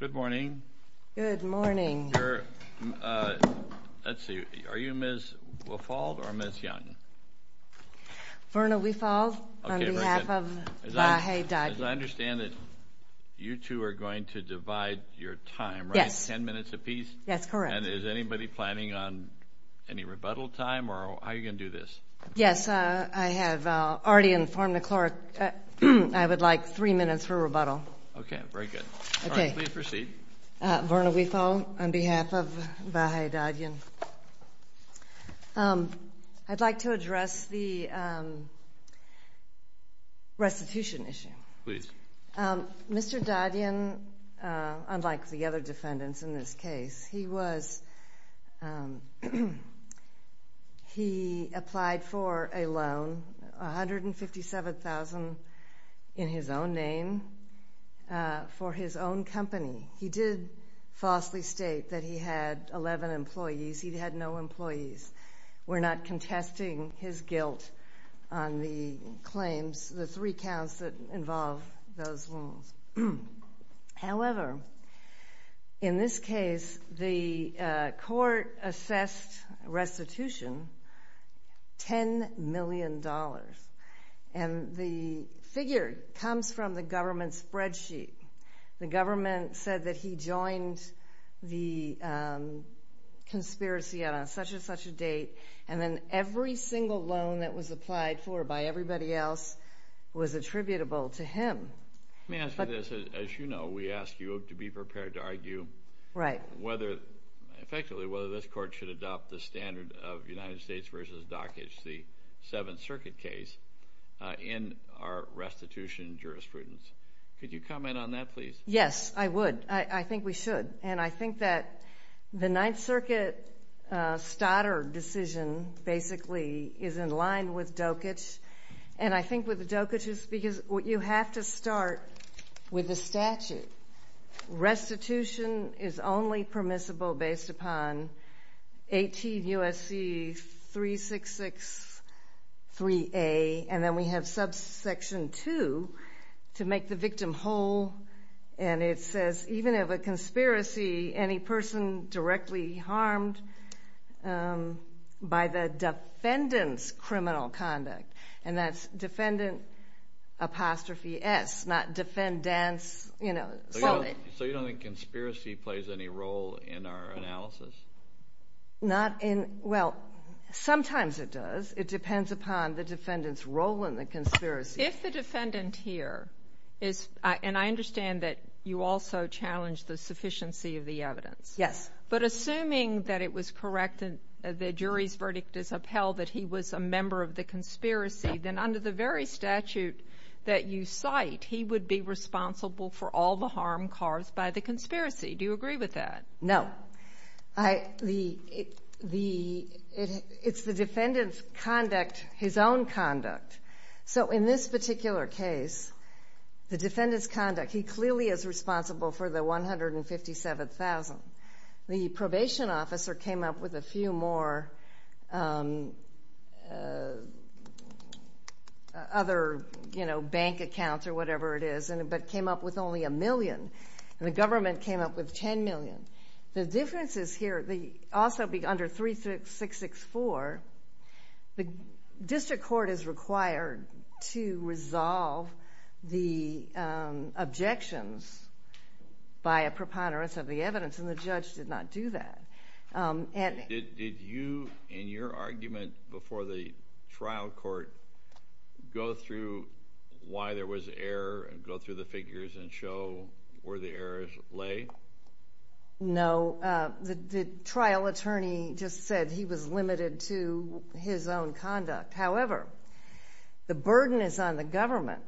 Good morning. Good morning. Let's see, are you Ms. Wifald or Ms. Young? Verna Wifald on behalf of Vahe Dadyan. As I understand it, you two are going to divide your time, right? Yes. Ten minutes apiece? That's correct. And is anybody planning on any rebuttal time or how are you going to do this? Yes, I have already informed the clerk I would like three minutes for rebuttal. Okay, very good. All right, please proceed. Verna Wifald on behalf of Vahe Dadyan. I'd like to address the restitution issue. Please. Mr. Dadyan, unlike the other defendants in this case, he was he applied for a loan, $157,000 in his own name, for his own company. He did falsely state that he had 11 employees. He had no employees. We're not contesting his guilt on the claims, the three counts that involve those loans. However, in this case, the court assessed restitution $10 million, and the figure comes from the government spreadsheet. The government said that he joined the conspiracy on such-and-such a date, and then every single loan that was applied for by everybody else was attributable to him. Let me ask you this. As you know, we ask you to be prepared to argue whether, effectively, whether this court should adopt the standard of United States v. Dockage, the Seventh Circuit case, in our restitution jurisprudence. Could you comment on that, please? Yes, I would. I think we should. And I think that the Ninth Circuit Stoddard decision, basically, is in line with Dockage. And I think with the Dockages, because you have to start with the statute. Restitution is only permissible based upon 18 U.S.C. 366-3A, and then we have subsection 2 to make the victim whole. And it says, even if a conspiracy, any person directly harmed by the defendant's criminal conduct. And that's defendant apostrophe S, not defendance. So you don't think conspiracy plays any role in our analysis? Not in – well, sometimes it does. It depends upon the defendant's role in the conspiracy. If the defendant here is – and I understand that you also challenge the sufficiency of the evidence. Yes. But assuming that it was correct and the jury's verdict is upheld that he was a member of the conspiracy, then under the very statute that you cite, he would be responsible for all the harm caused by the conspiracy. Do you agree with that? No. The – it's the defendant's conduct, his own conduct. So in this particular case, the defendant's conduct, he clearly is responsible for the 157,000. The probation officer came up with a few more other, you know, bank accounts or whatever it is, but came up with only a million. And the government came up with 10 million. The difference is here, also under 3664, the district court is required to resolve the objections by a preponderance of the evidence, and the judge did not do that. Did you, in your argument before the trial court, go through why there was error and go through the figures and show where the errors lay? No. The trial attorney just said he was limited to his own conduct. However, the burden is on the government,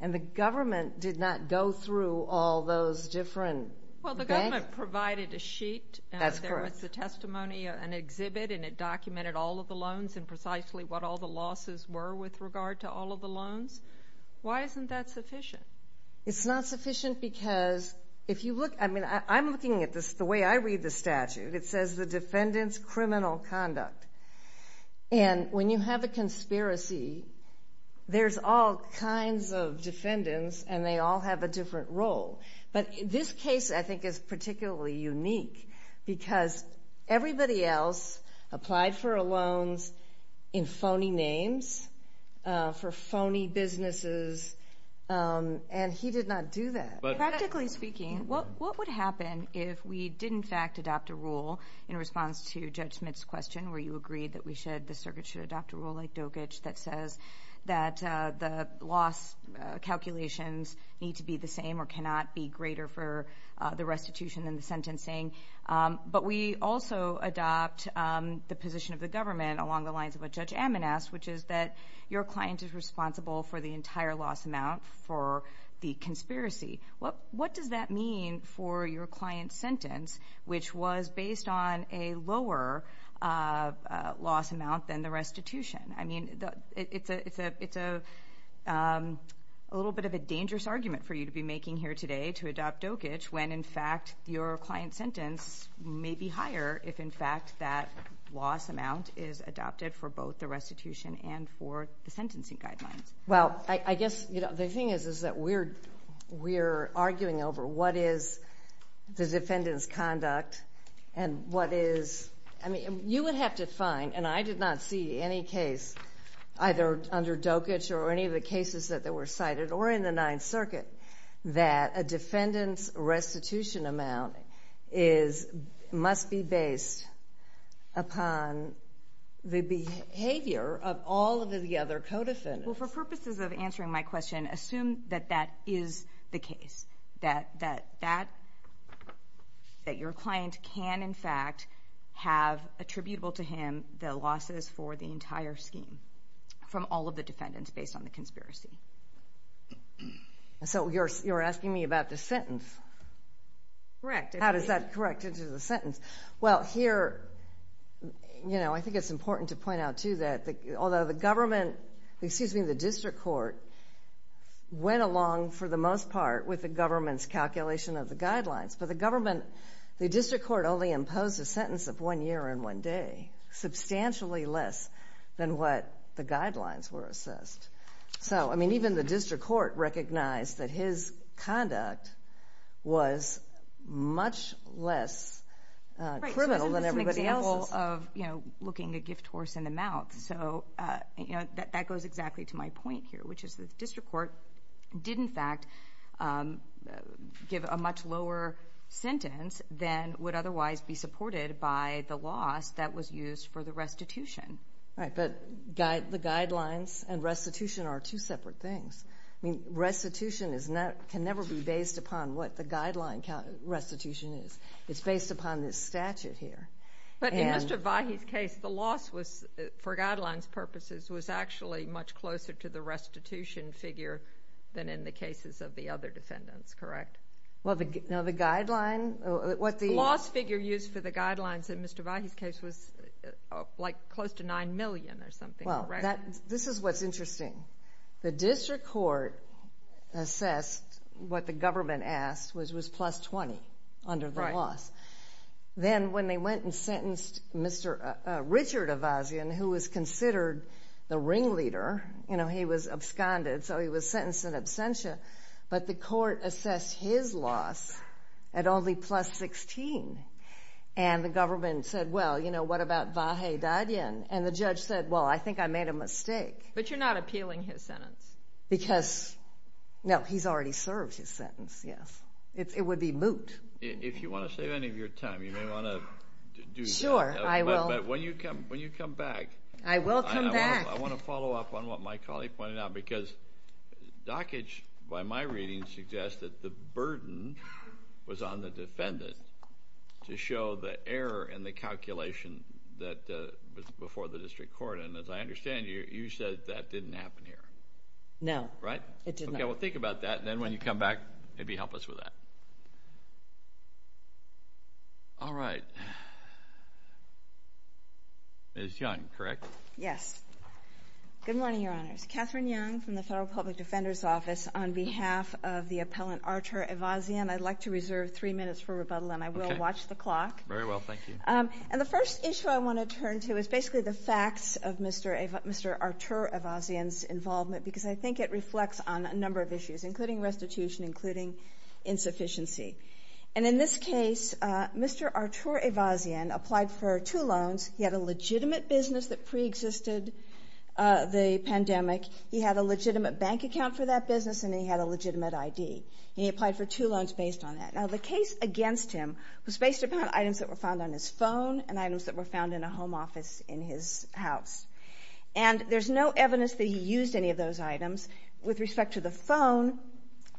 and the government did not go through all those different banks. Well, the government provided a sheet. That's correct. There was the testimony, an exhibit, and it documented all of the loans and precisely what all the losses were with regard to all of the loans. Why isn't that sufficient? It's not sufficient because if you look, I mean, I'm looking at this the way I read the statute. It says the defendant's criminal conduct. And when you have a conspiracy, there's all kinds of defendants, and they all have a different role. But this case, I think, is particularly unique because everybody else applied for loans in phony names for phony businesses, and he did not do that. Practically speaking, what would happen if we did, in fact, adopt a rule in response to Judge Smith's question where you agreed that we should, the circuit should adopt a rule like Dogich that says that the loss calculations need to be the same or cannot be greater for the restitution than the sentencing. But we also adopt the position of the government along the lines of what Judge Ammon asked, which is that your client is responsible for the entire loss amount for the conspiracy. What does that mean for your client's sentence, which was based on a lower loss amount than the restitution? I mean, it's a little bit of a dangerous argument for you to be making here today to adopt Dogich when, in fact, your client's sentence may be higher if, in fact, that loss amount is adopted for both the restitution and for the sentencing guidelines. Well, I guess the thing is that we're arguing over what is the defendant's conduct and what is, I mean, you would have to find, and I did not see any case either under Dogich or any of the cases that were cited or in the Ninth Circuit that a defendant's restitution amount must be based upon the behavior of all of the other co-defendants. Well, for purposes of answering my question, assume that that is the case, that your client can, in fact, have attributable to him the losses for the entire scheme from all of the defendants based on the conspiracy. So you're asking me about the sentence? Correct. How does that correct into the sentence? Well, here, you know, I think it's important to point out, too, that although the government, excuse me, the district court went along, for the most part, with the government's calculation of the guidelines. But the government, the district court only imposed a sentence of one year and one day, substantially less than what the guidelines were assessed. So, I mean, even the district court recognized that his conduct was much less criminal than everybody else's. Right, so isn't this an example of, you know, looking a gift horse in the mouth? So, you know, that goes exactly to my point here, which is the district court did, in fact, give a much lower sentence than would otherwise be supported by the loss that was used for the restitution. Right, but the guidelines and restitution are two separate things. I mean, restitution can never be based upon what the guideline restitution is. It's based upon this statute here. But in Mr. Vahey's case, the loss was, for guidelines purposes, was actually much closer to the restitution figure than in the cases of the other defendants, correct? Well, the guideline, what the— Well, this is what's interesting. The district court assessed what the government asked, which was plus 20 under the loss. Then when they went and sentenced Mr. Richard Avazian, who was considered the ringleader, you know, he was absconded, so he was sentenced in absentia, but the court assessed his loss at only plus 16. And the government said, Well, you know, what about Vahey Dadian? And the judge said, Well, I think I made a mistake. But you're not appealing his sentence. Because, no, he's already served his sentence, yes. It would be moot. If you want to save any of your time, you may want to do that. Sure, I will. But when you come back— I will come back. I want to follow up on what my colleague pointed out because dockage, by my reading, suggests that the burden was on the defendant to show the error in the calculation that was before the district court. And as I understand, you said that didn't happen here. No. Right? It did not. Okay, well, think about that. And then when you come back, maybe help us with that. All right. Ms. Young, correct? Yes. Good morning, Your Honors. I'm Catherine Young from the Federal Public Defender's Office. On behalf of the appellant, Artur Evazian, I'd like to reserve three minutes for rebuttal, and I will watch the clock. Very well. Thank you. And the first issue I want to turn to is basically the facts of Mr. Artur Evazian's involvement because I think it reflects on a number of issues, including restitution, including insufficiency. And in this case, Mr. Artur Evazian applied for two loans. He had a legitimate business that preexisted the pandemic. He had a legitimate bank account for that business, and he had a legitimate ID. And he applied for two loans based on that. Now, the case against him was based upon items that were found on his phone and items that were found in a home office in his house. And there's no evidence that he used any of those items. With respect to the phone,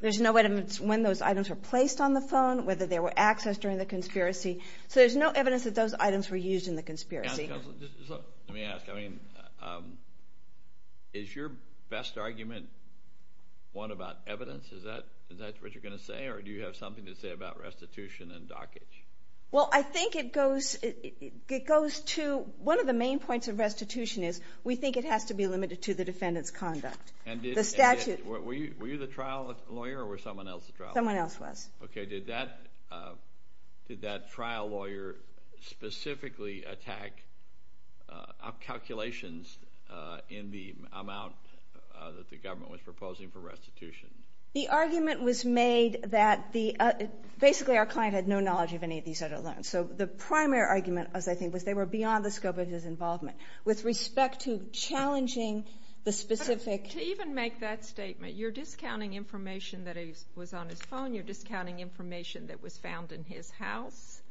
there's no evidence when those items were placed on the phone, whether they were accessed during the conspiracy. So there's no evidence that those items were used in the conspiracy. Let me ask. I mean, is your best argument one about evidence? Is that what you're going to say, or do you have something to say about restitution and dockage? Well, I think it goes to one of the main points of restitution is we think it has to be limited to the defendant's conduct. Were you the trial lawyer or was someone else the trial lawyer? Someone else was. Okay. Did that trial lawyer specifically attack calculations in the amount that the government was proposing for restitution? The argument was made that basically our client had no knowledge of any of these other loans. So the primary argument, as I think, was they were beyond the scope of his involvement. With respect to challenging the specific. To even make that statement, you're discounting information that was on his phone. You're discounting information that was found in his house.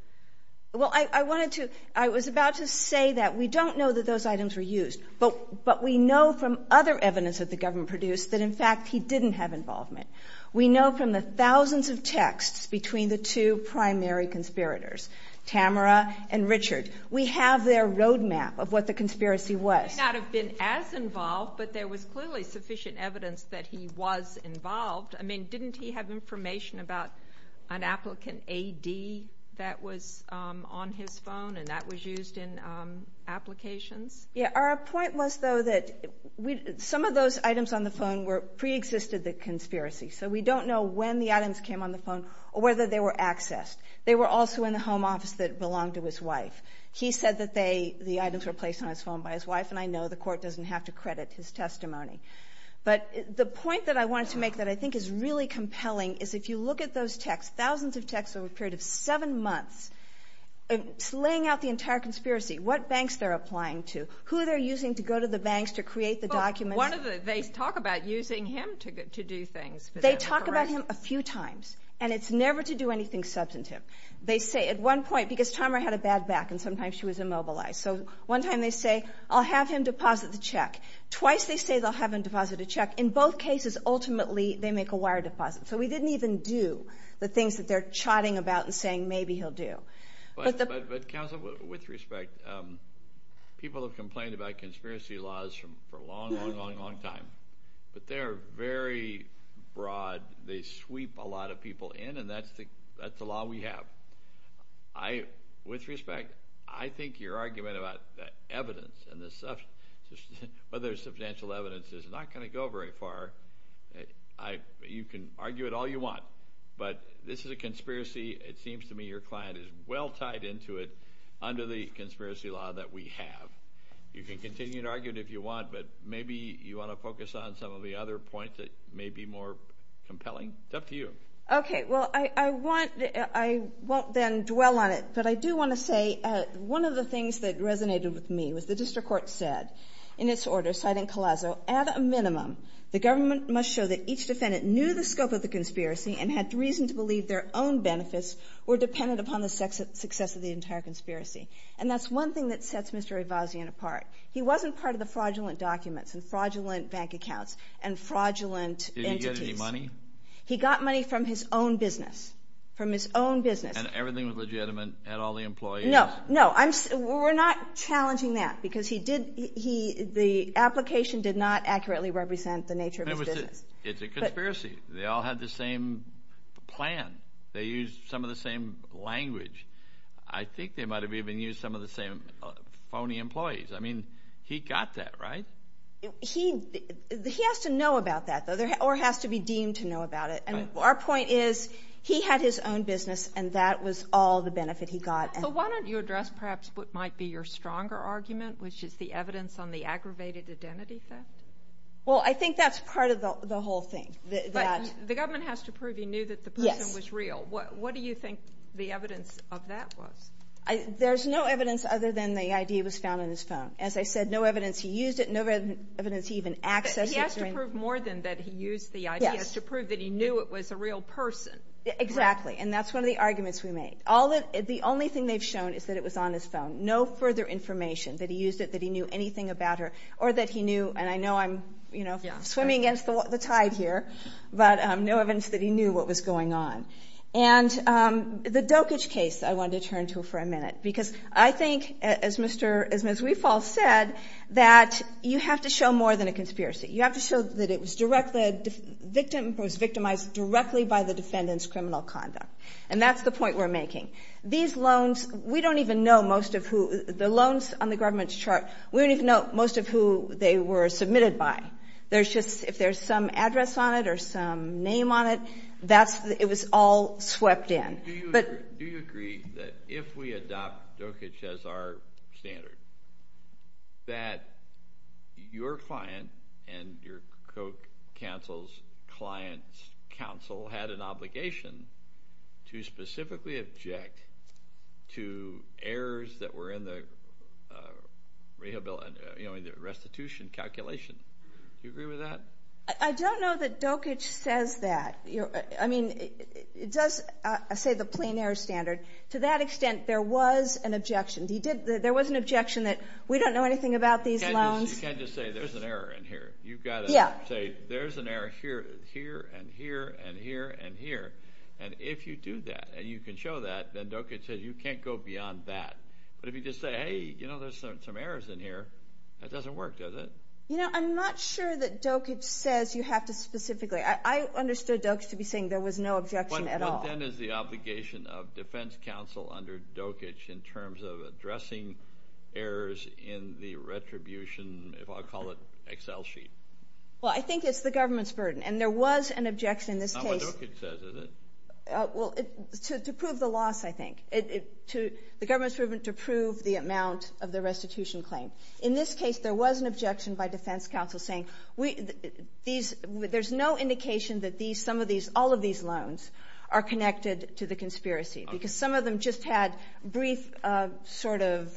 Well, I wanted to – I was about to say that we don't know that those items were used, but we know from other evidence that the government produced that, in fact, he didn't have involvement. We know from the thousands of texts between the two primary conspirators, Tamara and Richard, we have their roadmap of what the conspiracy was. He may not have been as involved, but there was clearly sufficient evidence that he was involved. I mean, didn't he have information about an applicant A.D. that was on his phone and that was used in applications? Yeah. Our point was, though, that some of those items on the phone preexisted the conspiracy. So we don't know when the items came on the phone or whether they were accessed. They were also in the home office that belonged to his wife. He said that the items were placed on his phone by his wife, and I know the court doesn't have to credit his testimony. But the point that I wanted to make that I think is really compelling is if you look at those texts, thousands of texts over a period of seven months, laying out the entire conspiracy, what banks they're applying to, who they're using to go to the banks to create the documents. Well, one of them, they talk about using him to do things. They talk about him a few times, and it's never to do anything substantive. They say at one point, because Tamara had a bad back and sometimes she was immobilized, twice they say they'll have him deposit a check. In both cases, ultimately, they make a wire deposit. So we didn't even do the things that they're chatting about and saying maybe he'll do. But, Counsel, with respect, people have complained about conspiracy laws for a long, long, long, long time. But they're very broad. They sweep a lot of people in, and that's the law we have. With respect, I think your argument about evidence and whether there's substantial evidence is not going to go very far. You can argue it all you want, but this is a conspiracy. It seems to me your client is well tied into it under the conspiracy law that we have. You can continue to argue it if you want, but maybe you want to focus on some of the other points that may be more compelling. It's up to you. Okay. Well, I won't then dwell on it, but I do want to say one of the things that resonated with me was the district court said in its order, citing Collazo, at a minimum, the government must show that each defendant knew the scope of the conspiracy and had reason to believe their own benefits were dependent upon the success of the entire conspiracy. And that's one thing that sets Mr. Ivasian apart. He wasn't part of the fraudulent documents and fraudulent bank accounts and fraudulent entities. Did he get any money? He got money from his own business, from his own business. And everything was legitimate at all the employees? No, no. We're not challenging that because the application did not accurately represent the nature of his business. It's a conspiracy. They all had the same plan. They used some of the same language. I think they might have even used some of the same phony employees. I mean, he got that, right? He has to know about that, though, or has to be deemed to know about it. And our point is he had his own business, and that was all the benefit he got. So why don't you address perhaps what might be your stronger argument, which is the evidence on the aggravated identity theft? Well, I think that's part of the whole thing. But the government has to prove he knew that the person was real. What do you think the evidence of that was? There's no evidence other than the ID was found on his phone. As I said, no evidence he used it, no evidence he even accessed it. He has to prove more than that he used the ID. He has to prove that he knew it was a real person. Exactly, and that's one of the arguments we made. The only thing they've shown is that it was on his phone. No further information that he used it, that he knew anything about her, or that he knew, and I know I'm swimming against the tide here, but no evidence that he knew what was going on. And the Dokich case I wanted to turn to for a minute, because I think, as Ms. Riefal said, that you have to show more than a conspiracy. You have to show that it was victimized directly by the defendant's criminal conduct. And that's the point we're making. These loans, we don't even know most of who the loans on the government's chart, we don't even know most of who they were submitted by. There's just, if there's some address on it or some name on it, it was all swept in. Do you agree that if we adopt Dokich as our standard, that your client and your co-counsel's client's counsel had an obligation to specifically object to errors that were in the restitution calculation? Do you agree with that? I don't know that Dokich says that. I mean, it does say the plain error standard. To that extent, there was an objection. There was an objection that we don't know anything about these loans. You can't just say there's an error in here. You've got to say there's an error here and here and here and here. And if you do that and you can show that, then Dokich says you can't go beyond that. But if you just say, hey, you know, there's some errors in here, that doesn't work, does it? You know, I'm not sure that Dokich says you have to specifically. I understood Dokich to be saying there was no objection at all. What then is the obligation of defense counsel under Dokich in terms of addressing errors in the retribution, if I'll call it, Excel sheet? Well, I think it's the government's burden, and there was an objection in this case. Not what Dokich says, is it? Well, to prove the loss, I think. The government's proven to prove the amount of the restitution claim. In this case, there was an objection by defense counsel saying there's no indication that these, some of these, all of these loans are connected to the conspiracy. Because some of them just had brief sort of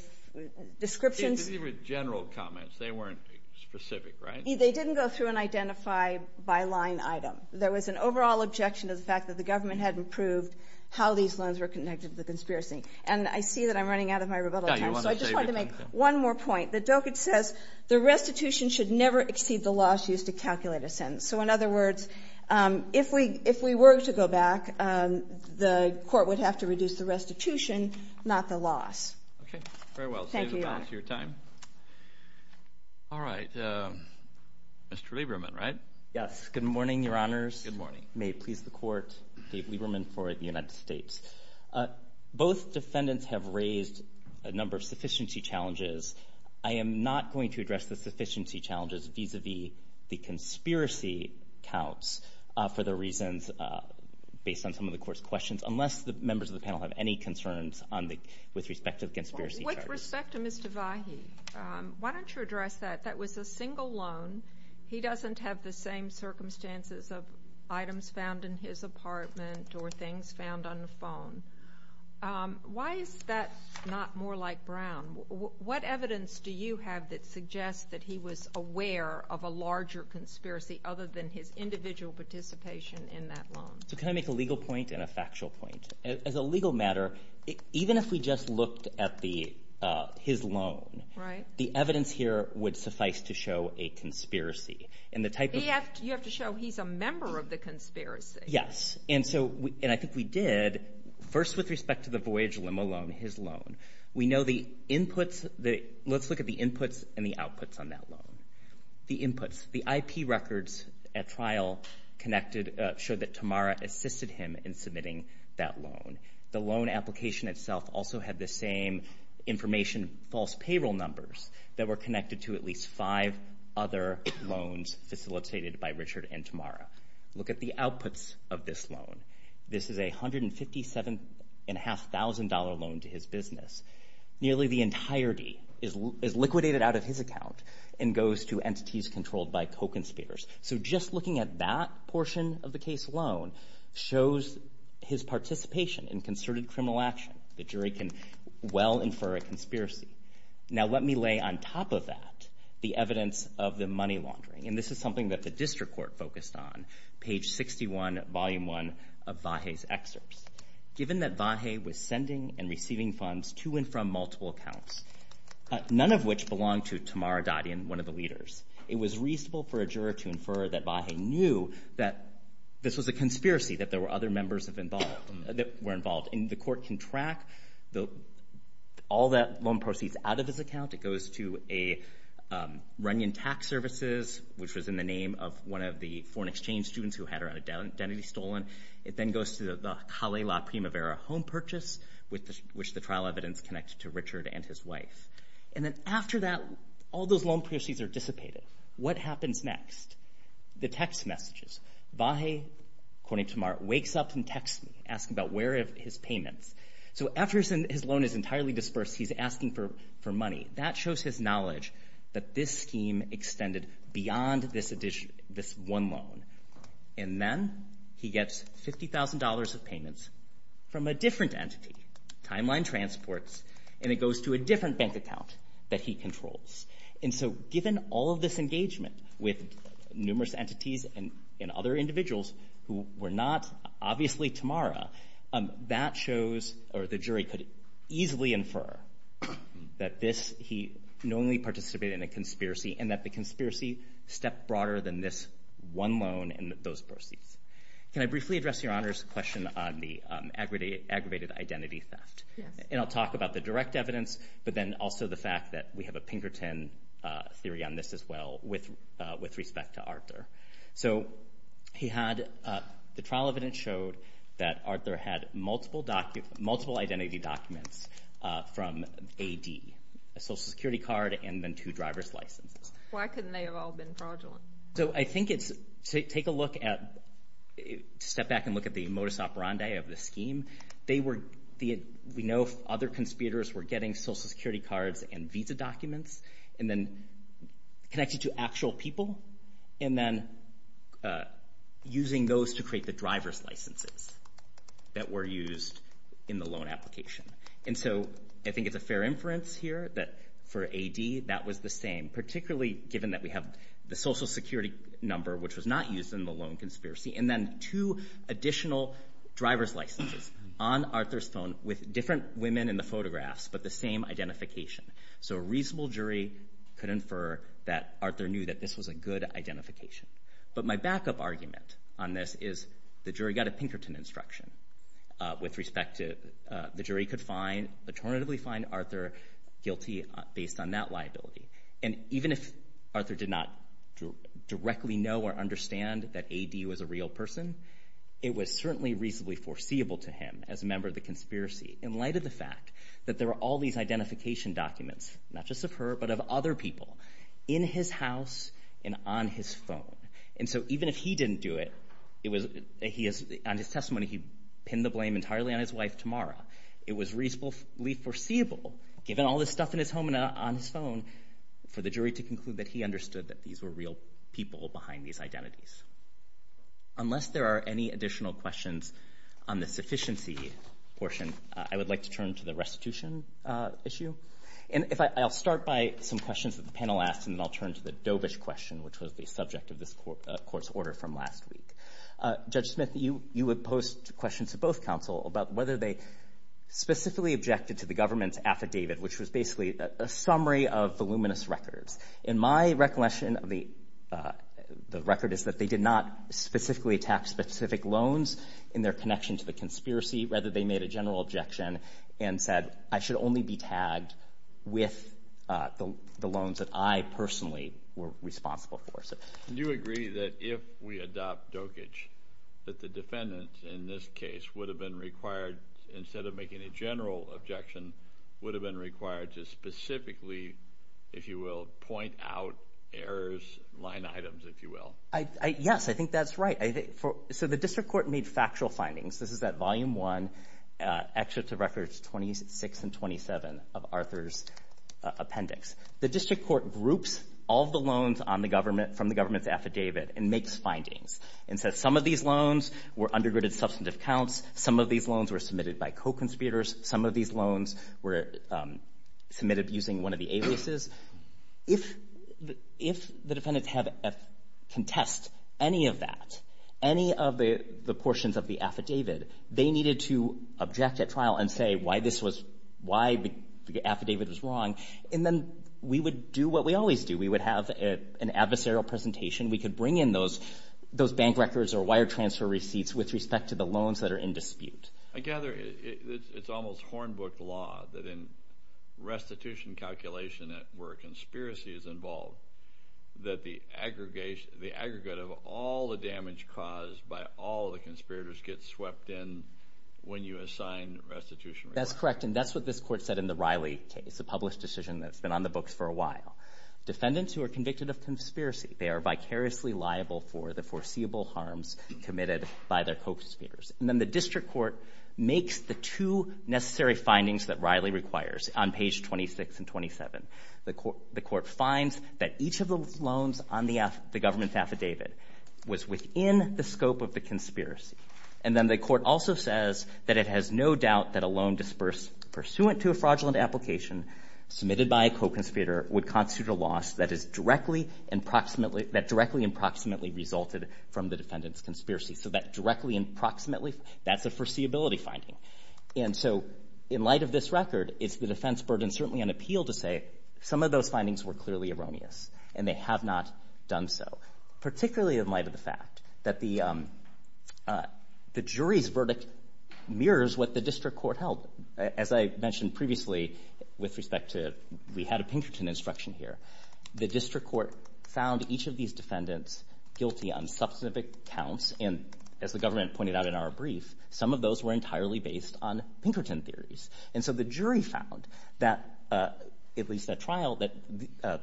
descriptions. These were general comments. They weren't specific, right? They didn't go through and identify by line item. There was an overall objection to the fact that the government hadn't proved how these loans were connected to the conspiracy. And I see that I'm running out of my rebuttal time. So I just wanted to make one more point. That Dokich says the restitution should never exceed the loss used to calculate a sentence. So, in other words, if we were to go back, the court would have to reduce the restitution, not the loss. Okay. Very well. Thank you, Your Honor. Thank you for your time. All right. Mr. Lieberman, right? Yes. Good morning, Your Honors. Good morning. May it please the Court. Dave Lieberman for the United States. Both defendants have raised a number of sufficiency challenges. I am not going to address the sufficiency challenges vis-à-vis the conspiracy counts for the reasons based on some of the Court's questions unless the members of the panel have any concerns with respect to the conspiracy charges. With respect to Mr. Vahey, why don't you address that? That was a single loan. He doesn't have the same circumstances of items found in his apartment or things found on the phone. Why is that not more like Brown? What evidence do you have that suggests that he was aware of a larger conspiracy other than his individual participation in that loan? So can I make a legal point and a factual point? As a legal matter, even if we just looked at his loan, the evidence here would suffice to show a conspiracy. You have to show he's a member of the conspiracy. Yes. And I think we did. First, with respect to the Voyage Limo loan, his loan, we know the inputs. Let's look at the inputs and the outputs on that loan. The inputs, the IP records at trial connected, showed that Tamara assisted him in submitting that loan. The loan application itself also had the same information, false payroll numbers, that were connected to at least five other loans facilitated by Richard and Tamara. Look at the outputs of this loan. This is a $157,500 loan to his business. Nearly the entirety is liquidated out of his account and goes to entities controlled by co-conspirators. So just looking at that portion of the case alone shows his participation in concerted criminal action. The jury can well infer a conspiracy. Now let me lay on top of that the evidence of the money laundering, and this is something that the district court focused on, page 61, volume 1 of Vahe's excerpts. Given that Vahe was sending and receiving funds to and from multiple accounts, none of which belonged to Tamara Dadian, one of the leaders, it was reasonable for a juror to infer that Vahe knew that this was a conspiracy, that there were other members that were involved. The court can track all the loan proceeds out of his account. It goes to Runyon Tax Services, which was in the name of one of the foreign exchange students who had her identity stolen. It then goes to the Kalei La Primavera Home Purchase, which the trial evidence connects to Richard and his wife. And then after that, all those loan proceeds are dissipated. What happens next? The text messages. Vahe, according to Mark, wakes up and texts me, asking about where are his payments. So after his loan is entirely dispersed, he's asking for money. That shows his knowledge that this scheme extended beyond this one loan. And then he gets $50,000 of payments from a different entity, Timeline Transports, and it goes to a different bank account that he controls. And so given all of this engagement with numerous entities and other individuals who were not obviously Tamara, that shows or the jury could easily infer that this, he knowingly participated in a conspiracy and that the conspiracy stepped broader than this one loan and those proceeds. Can I briefly address Your Honor's question on the aggravated identity theft? Yes. And I'll talk about the direct evidence, but then also the fact that we have a Pinkerton theory on this as well with respect to Arthur. So he had, the trial evidence showed that Arthur had multiple identity documents from AD, a Social Security card and then two driver's licenses. Why couldn't they have all been fraudulent? So I think it's, take a look at, step back and look at the modus operandi of the scheme. They were, we know other conspirators were getting Social Security cards and visa documents and then connected to actual people and then using those to create the driver's licenses that were used in the loan application. And so I think it's a fair inference here that for AD that was the same, particularly given that we have the Social Security number, which was not used in the loan conspiracy, and then two additional driver's licenses on Arthur's phone with different women in the photographs, but the same identification. So a reasonable jury could infer that Arthur knew that this was a good identification. But my backup argument on this is the jury got a Pinkerton instruction with respect to, the jury could find, alternatively find Arthur guilty based on that liability. And even if Arthur did not directly know or understand that AD was a real person, it was certainly reasonably foreseeable to him as a member of the conspiracy in light of the fact that there were all these identification documents, not just of her but of other people, in his house and on his phone. And so even if he didn't do it, on his testimony he pinned the blame entirely on his wife Tamara. It was reasonably foreseeable, given all this stuff in his home and on his phone, for the jury to conclude that he understood that these were real people behind these identities. Unless there are any additional questions on the sufficiency portion, I would like to turn to the restitution issue. And I'll start by some questions that the panel asked, and then I'll turn to the Dovis question, which was the subject of this Court's order from last week. Judge Smith, you would post questions to both counsel about whether they specifically objected to the government's affidavit, which was basically a summary of voluminous records. And my recollection of the record is that they did not specifically attack specific loans in their connection to the conspiracy. Rather, they made a general objection and said, I should only be tagged with the loans that I personally were responsible for. Do you agree that if we adopt dokage, that the defendant in this case would have been required, instead of making a general objection, would have been required to specifically, if you will, point out errors, line items, if you will? Yes, I think that's right. So the District Court made factual findings. This is at Volume 1, Excerpts of Records 26 and 27 of Arthur's appendix. The District Court groups all the loans from the government's affidavit and makes findings and says some of these loans were undergirded substantive counts, some of these loans were submitted by co-conspirators, some of these loans were submitted using one of the aliases. If the defendants have to contest any of that, any of the portions of the affidavit, they needed to object at trial and say why the affidavit was wrong, and then we would do what we always do. We would have an adversarial presentation. We could bring in those bank records or wire transfer receipts with respect to the loans that are in dispute. I gather it's almost hornbook law that in restitution calculation where a conspiracy is involved that the aggregate of all the damage caused by all the conspirators gets swept in when you assign restitution requirements. That's correct, and that's what this Court said in the Riley case, a published decision that's been on the books for a while. Defendants who are convicted of conspiracy, they are vicariously liable for the foreseeable harms committed by their co-conspirators. And then the district court makes the two necessary findings that Riley requires on page 26 and 27. The court finds that each of the loans on the government's affidavit was within the scope of the conspiracy, and then the court also says that it has no doubt that a loan disbursed pursuant to a fraudulent application submitted by a co-conspirator would constitute a loss that directly and proximately resulted from the defendant's conspiracy. So that directly and proximately, that's a foreseeability finding. And so in light of this record, it's the defense burden, certainly on appeal, to say some of those findings were clearly erroneous and they have not done so, particularly in light of the fact that the jury's verdict mirrors what the district court held. As I mentioned previously with respect to we had a Pinkerton instruction here, the district court found each of these defendants guilty on substantive accounts, and as the government pointed out in our brief, some of those were entirely based on Pinkerton theories. And so the jury found that, at least at trial, that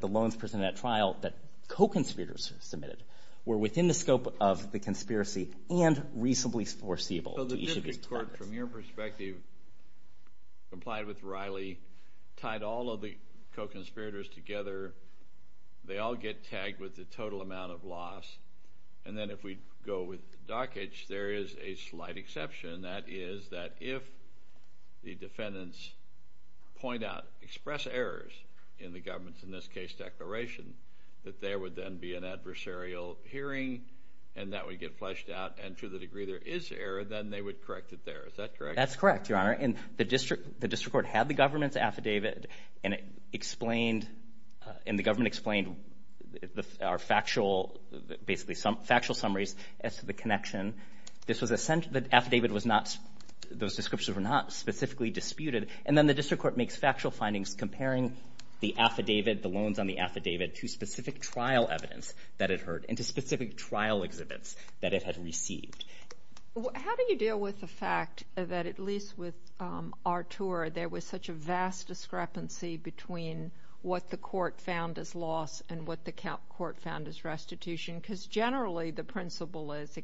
the loans presented at trial that co-conspirators submitted were within the scope of the conspiracy and reasonably foreseeable to each of these defendants. So from your perspective, complied with Riley, tied all of the co-conspirators together, they all get tagged with the total amount of loss, and then if we go with Dockage, there is a slight exception, and that is that if the defendants point out, express errors in the government's, in this case, declaration, that there would then be an adversarial hearing and that would get fleshed out, and to the degree there is error, then they would correct it there. Is that correct? That's correct, Your Honor. And the district court had the government's affidavit, and it explained, and the government explained our factual, basically factual summaries as to the connection. The affidavit was not, those descriptions were not specifically disputed. And then the district court makes factual findings comparing the affidavit, the loans on the affidavit, to specific trial evidence that it heard and to specific trial exhibits that it had received. How do you deal with the fact that, at least with Artur, there was such a vast discrepancy between what the court found as loss and what the court found as restitution? Because generally the principle is,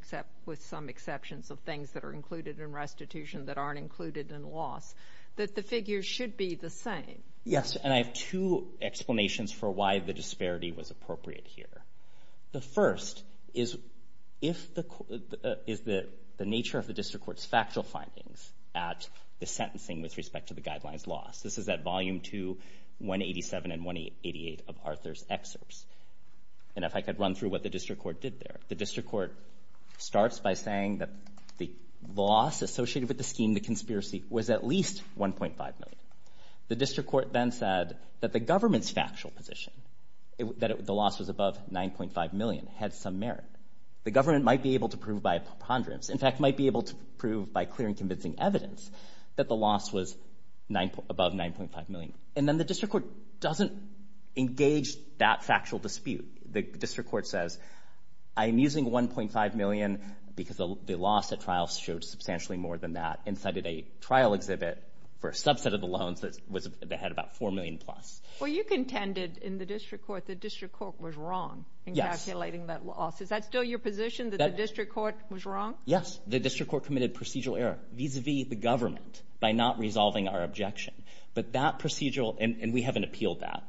with some exceptions of things that are included in restitution that aren't included in loss, that the figures should be the same. Yes, and I have two explanations for why the disparity was appropriate here. The first is if the, is the nature of the district court's factual findings at the sentencing with respect to the guidelines loss. This is at Volume 2, 187 and 188 of Arthur's excerpts. And if I could run through what the district court did there. The district court starts by saying that the loss associated with the scheme, the conspiracy, was at least $1.5 million. The district court then said that the government's factual position, that the loss was above $9.5 million, had some merit. The government might be able to prove by preponderance, in fact might be able to prove by clear and convincing evidence, that the loss was above $9.5 million. And then the district court doesn't engage that factual dispute. The district court says, I'm using $1.5 million because the loss at trial showed substantially more than that and cited a trial exhibit for a subset of the loans that had about $4 million plus. Well, you contended in the district court that the district court was wrong in calculating that loss. Is that still your position, that the district court was wrong? Yes. The district court committed procedural error vis-a-vis the government by not resolving our objection. But that procedural, and we haven't appealed that,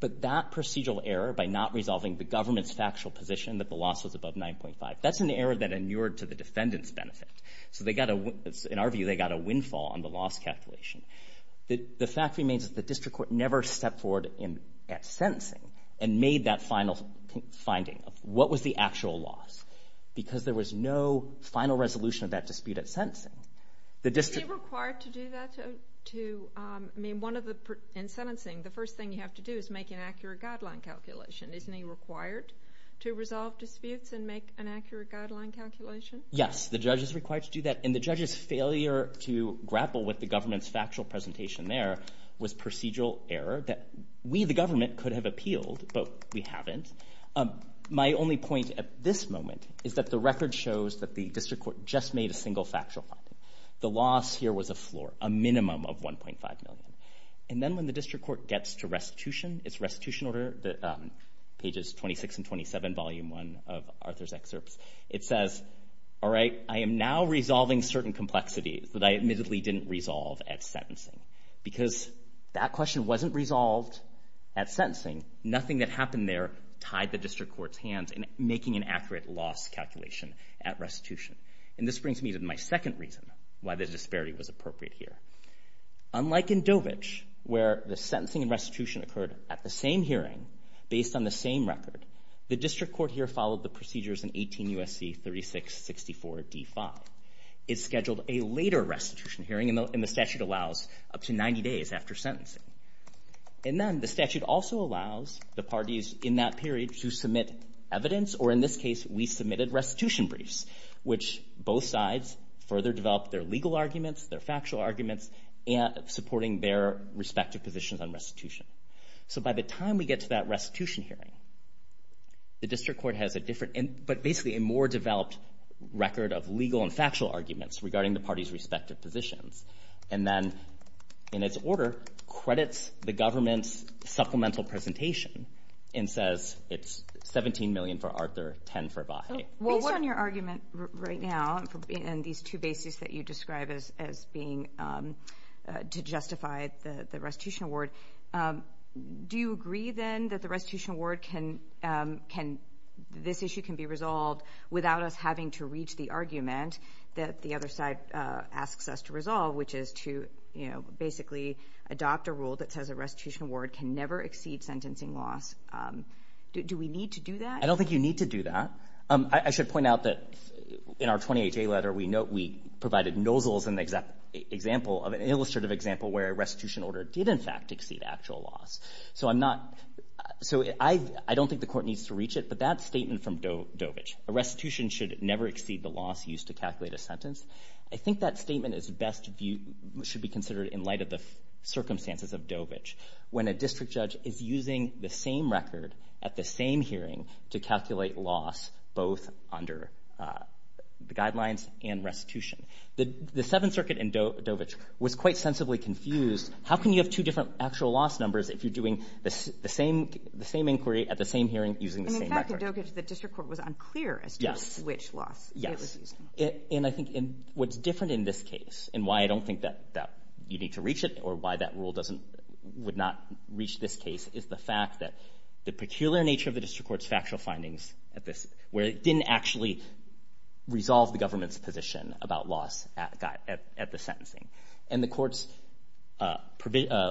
but that procedural error by not resolving the government's factual position that the loss was above $9.5 million, that's an error that inured to the defendant's benefit. In our view, they got a windfall on the loss calculation. The fact remains that the district court never stepped forward at sentencing and made that final finding of what was the actual loss because there was no final resolution of that dispute at sentencing. Is he required to do that? In sentencing, the first thing you have to do is make an accurate guideline calculation. Isn't he required to resolve disputes and make an accurate guideline calculation? Yes, the judge is required to do that, and the judge's failure to grapple with the government's factual presentation there was procedural error that we, the government, could have appealed, but we haven't. My only point at this moment is that the record shows that the district court just made a single factual finding. The loss here was a floor, a minimum of $1.5 million. And then when the district court gets to restitution, it's restitution order, pages 26 and 27, volume 1 of Arthur's excerpts. It says, all right, I am now resolving certain complexities that I admittedly didn't resolve at sentencing because that question wasn't resolved at sentencing. Nothing that happened there tied the district court's hands in making an accurate loss calculation at restitution. And this brings me to my second reason why this disparity was appropriate here. Unlike in Dovich, where the sentencing and restitution occurred at the same hearing, based on the same record, the district court here followed the procedures in 18 U.S.C. 36-64-D-5. It scheduled a later restitution hearing, and the statute allows up to 90 days after sentencing. And then the statute also allows the parties in that period to submit evidence, or in this case, we submitted restitution briefs, which both sides further developed their legal arguments, their factual arguments, supporting their respective positions on restitution. So by the time we get to that restitution hearing, the district court has a different, but basically a more developed record of legal and factual arguments regarding the parties' respective positions. And then, in its order, credits the government's supplemental presentation and says it's $17 million for Arthur, $10 for Vahe. Based on your argument right now, and these two bases that you describe as being to justify the restitution award, do you agree then that the restitution award can, this issue can be resolved without us having to reach the argument that the other side asks us to resolve, which is to basically adopt a rule that says a restitution award can never exceed sentencing loss? Do we need to do that? I don't think you need to do that. I should point out that in our 20HA letter, we provided nozzles of an illustrative example where a restitution order did, in fact, exceed actual loss. So I don't think the court needs to reach it, but that statement from Dovich, a restitution should never exceed the loss used to calculate a sentence, I think that statement should be considered in light of the circumstances of Dovich. When a district judge is using the same record at the same hearing to calculate loss both under the guidelines and restitution. The Seventh Circuit in Dovich was quite sensibly confused. How can you have two different actual loss numbers if you're doing the same inquiry at the same hearing using the same record? In fact, in Dovich, the district court was unclear as to which loss it was using. Yes. And I think what's different in this case, and why I don't think that you need to reach it or why that rule would not reach this case, is the fact that the peculiar nature of the district court's factual findings where it didn't actually resolve the government's position about loss at the sentencing. And the courts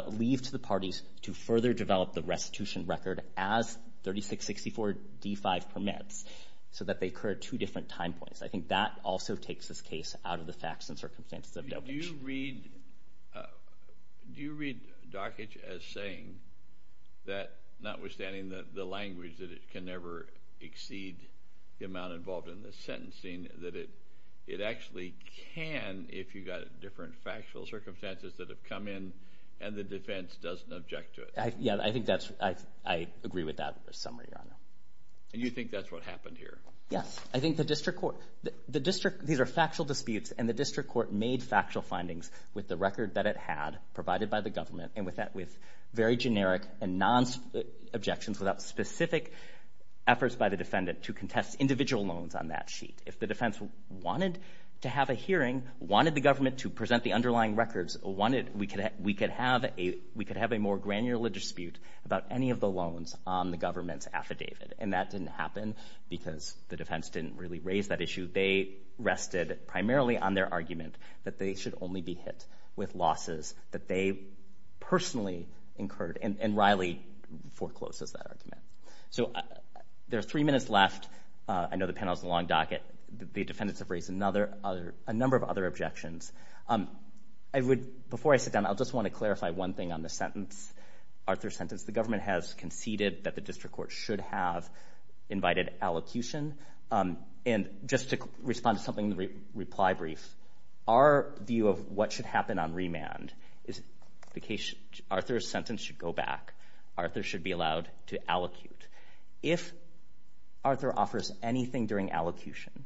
leave to the parties to further develop the restitution record as 3664 D-5 permits so that they occur at two different time points. I think that also takes this case out of the facts and circumstances of Dovich. Do you read Dovich as saying that notwithstanding the language that it can never exceed the amount involved in the sentencing, that it actually can if you've got different factual circumstances that have come in and the defense doesn't object to it? Yeah, I think that's—I agree with that summary, Your Honor. And you think that's what happened here? Yes. I think the district court— with the record that it had provided by the government and with very generic and non-objections without specific efforts by the defendant to contest individual loans on that sheet. If the defense wanted to have a hearing, wanted the government to present the underlying records, we could have a more granular dispute about any of the loans on the government's affidavit. And that didn't happen because the defense didn't really raise that issue. They rested primarily on their argument that they should only be hit with losses that they personally incurred. And Riley forecloses that argument. So there are three minutes left. I know the panel's a long docket. The defendants have raised a number of other objections. Before I sit down, I'll just want to clarify one thing on the sentence, Arthur's sentence. The government has conceded that the district court should have invited allocution. And just to respond to something in the reply brief, our view of what should happen on remand is Arthur's sentence should go back. Arthur should be allowed to allocute. If Arthur offers anything during allocution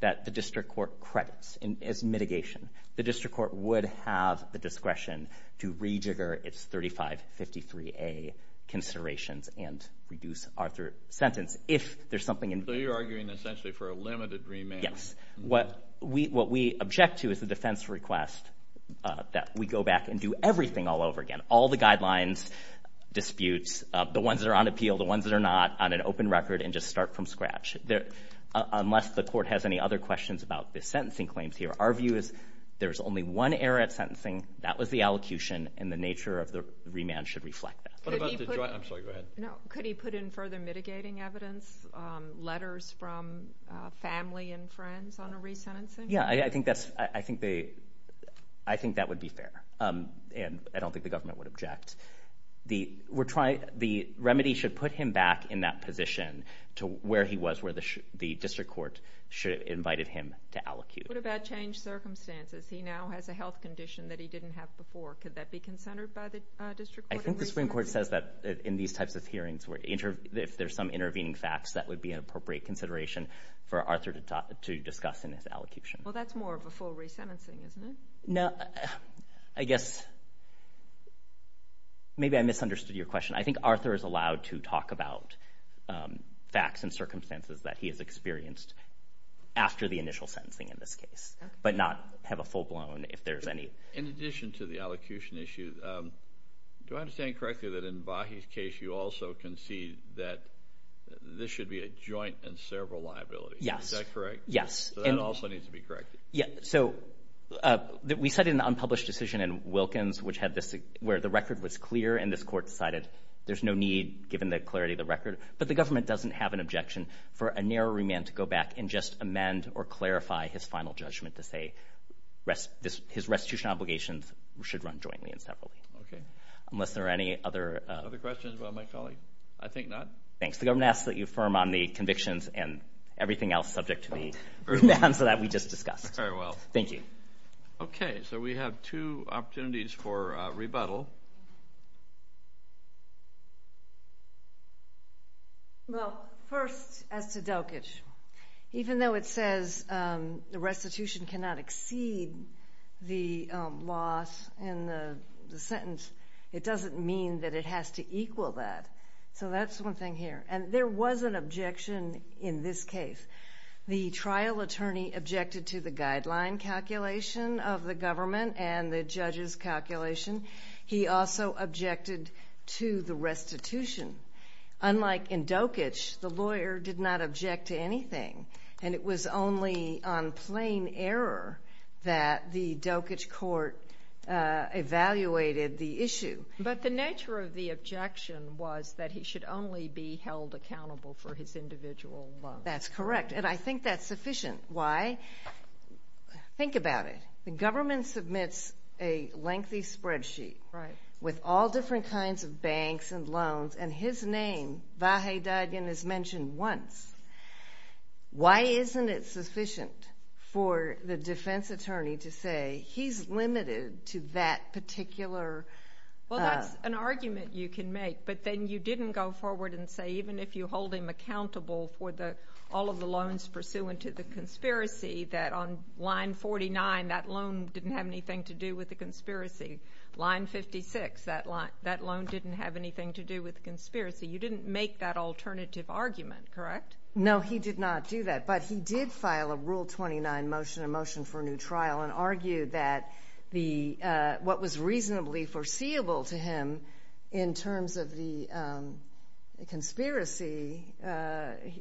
that the district court credits as mitigation, the district court would have the discretion to rejigger its 3553A considerations and reduce Arthur's sentence if there's something— So you're arguing essentially for a limited remand. Yes. What we object to is the defense request that we go back and do everything all over again, all the guidelines, disputes, the ones that are on appeal, the ones that are not, on an open record, and just start from scratch. Unless the court has any other questions about the sentencing claims here, our view is there's only one error at sentencing, that was the allocution, and the nature of the remand should reflect that. I'm sorry, go ahead. Could he put in further mitigating evidence, letters from family and friends on a resentencing? Yeah, I think that would be fair, and I don't think the government would object. The remedy should put him back in that position to where he was where the district court should have invited him to allocute. What about changed circumstances? He now has a health condition that he didn't have before. Could that be consented by the district court? I think the Supreme Court says that in these types of hearings, if there's some intervening facts, that would be an appropriate consideration for Arthur to discuss in his allocution. Well, that's more of a full resentencing, isn't it? No, I guess maybe I misunderstood your question. I think Arthur is allowed to talk about facts and circumstances that he has experienced after the initial sentencing in this case, but not have a full blown if there's any. In addition to the allocution issue, do I understand correctly that in Vahie's case you also concede that this should be a joint and several liability? Yes. Is that correct? Yes. So that also needs to be corrected. Yeah, so we cited an unpublished decision in Wilkins where the record was clear and this court decided there's no need given the clarity of the record, but the government doesn't have an objection for a narrow remand to go back and just amend or clarify his final judgment to say his restitution obligations should run jointly and separately. Okay. Unless there are any other... Other questions about my colleague? I think not. Thanks. The government asks that you affirm on the convictions and everything else subject to the remand so that we just discussed. Very well. Thank you. Okay. So we have two opportunities for rebuttal. Well, first as to Delkish, even though it says the restitution cannot exceed the loss in the sentence, it doesn't mean that it has to equal that. So that's one thing here. And there was an objection in this case. The trial attorney objected to the guideline calculation of the government and the judge's calculation. He also objected to the restitution. Unlike in Delkish, the lawyer did not object to anything, and it was only on plain error that the Delkish court evaluated the issue. But the nature of the objection was that he should only be held accountable for his individual loans. That's correct, and I think that's sufficient. Why? Think about it. The government submits a lengthy spreadsheet with all different kinds of banks and loans, and his name, Vahey Dadian, is mentioned once. Why isn't it sufficient for the defense attorney to say he's limited to that particular ---- Well, that's an argument you can make, but then you didn't go forward and say even if you hold him accountable for all of the loans pursuant to the conspiracy, that on line 49, that loan didn't have anything to do with the conspiracy. Line 56, that loan didn't have anything to do with the conspiracy. You didn't make that alternative argument, correct? No, he did not do that, but he did file a rule 29 motion, a motion for a new trial, and argued that what was reasonably foreseeable to him in terms of the conspiracy,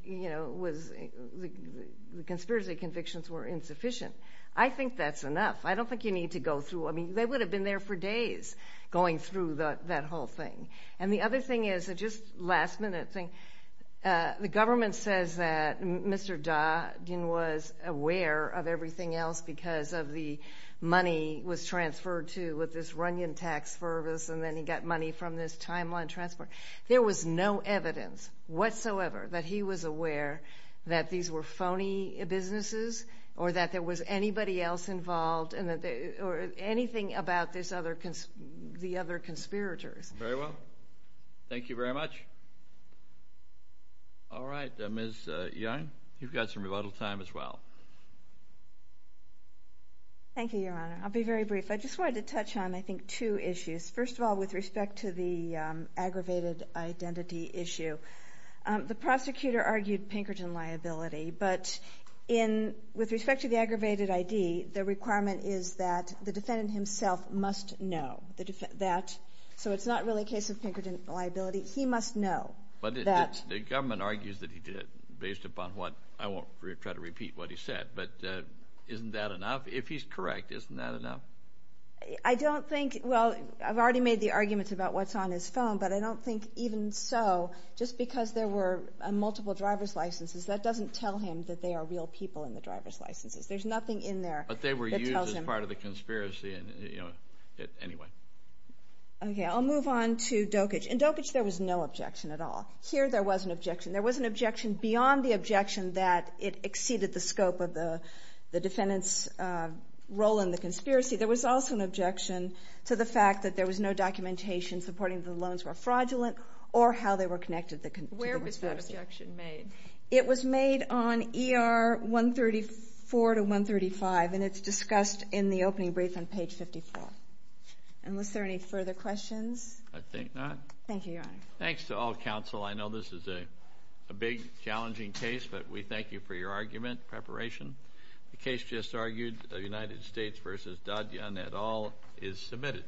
you know, was the conspiracy convictions were insufficient. I think that's enough. I don't think you need to go through. I mean, they would have been there for days going through that whole thing. And the other thing is, just last minute thing, the government says that Mr. Dadian was aware of everything else because of the money was transferred to with this Runyon tax service, and then he got money from this timeline transfer. There was no evidence whatsoever that he was aware that these were phony businesses, or that there was anybody else involved, or anything about the other conspirators. Very well. Thank you very much. All right. Ms. Young, you've got some rebuttal time as well. Thank you, Your Honor. I'll be very brief. I just wanted to touch on, I think, two issues. First of all, with respect to the aggravated identity issue, the prosecutor argued Pinkerton liability. But with respect to the aggravated ID, the requirement is that the defendant himself must know that. So it's not really a case of Pinkerton liability. He must know that. But the government argues that he did, based upon what – I won't try to repeat what he said. But isn't that enough? If he's correct, isn't that enough? I don't think – well, I've already made the arguments about what's on his phone. But I don't think even so, just because there were multiple driver's licenses, that doesn't tell him that they are real people in the driver's licenses. There's nothing in there that tells him. But they were used as part of the conspiracy anyway. Okay. I'll move on to Dokich. In Dokich, there was no objection at all. Here there was an objection. There was an objection beyond the objection that it exceeded the scope of the defendant's role in the conspiracy. There was also an objection to the fact that there was no documentation supporting the loans were fraudulent or how they were connected to the conspiracy. Where was that objection made? It was made on ER 134 to 135, and it's discussed in the opening brief on page 54. And was there any further questions? I think not. Thank you, Your Honor. Thanks to all counsel. I know this is a big, challenging case, but we thank you for your argument, preparation. The case just argued, United States v. Dodd-Young et al. is submitted.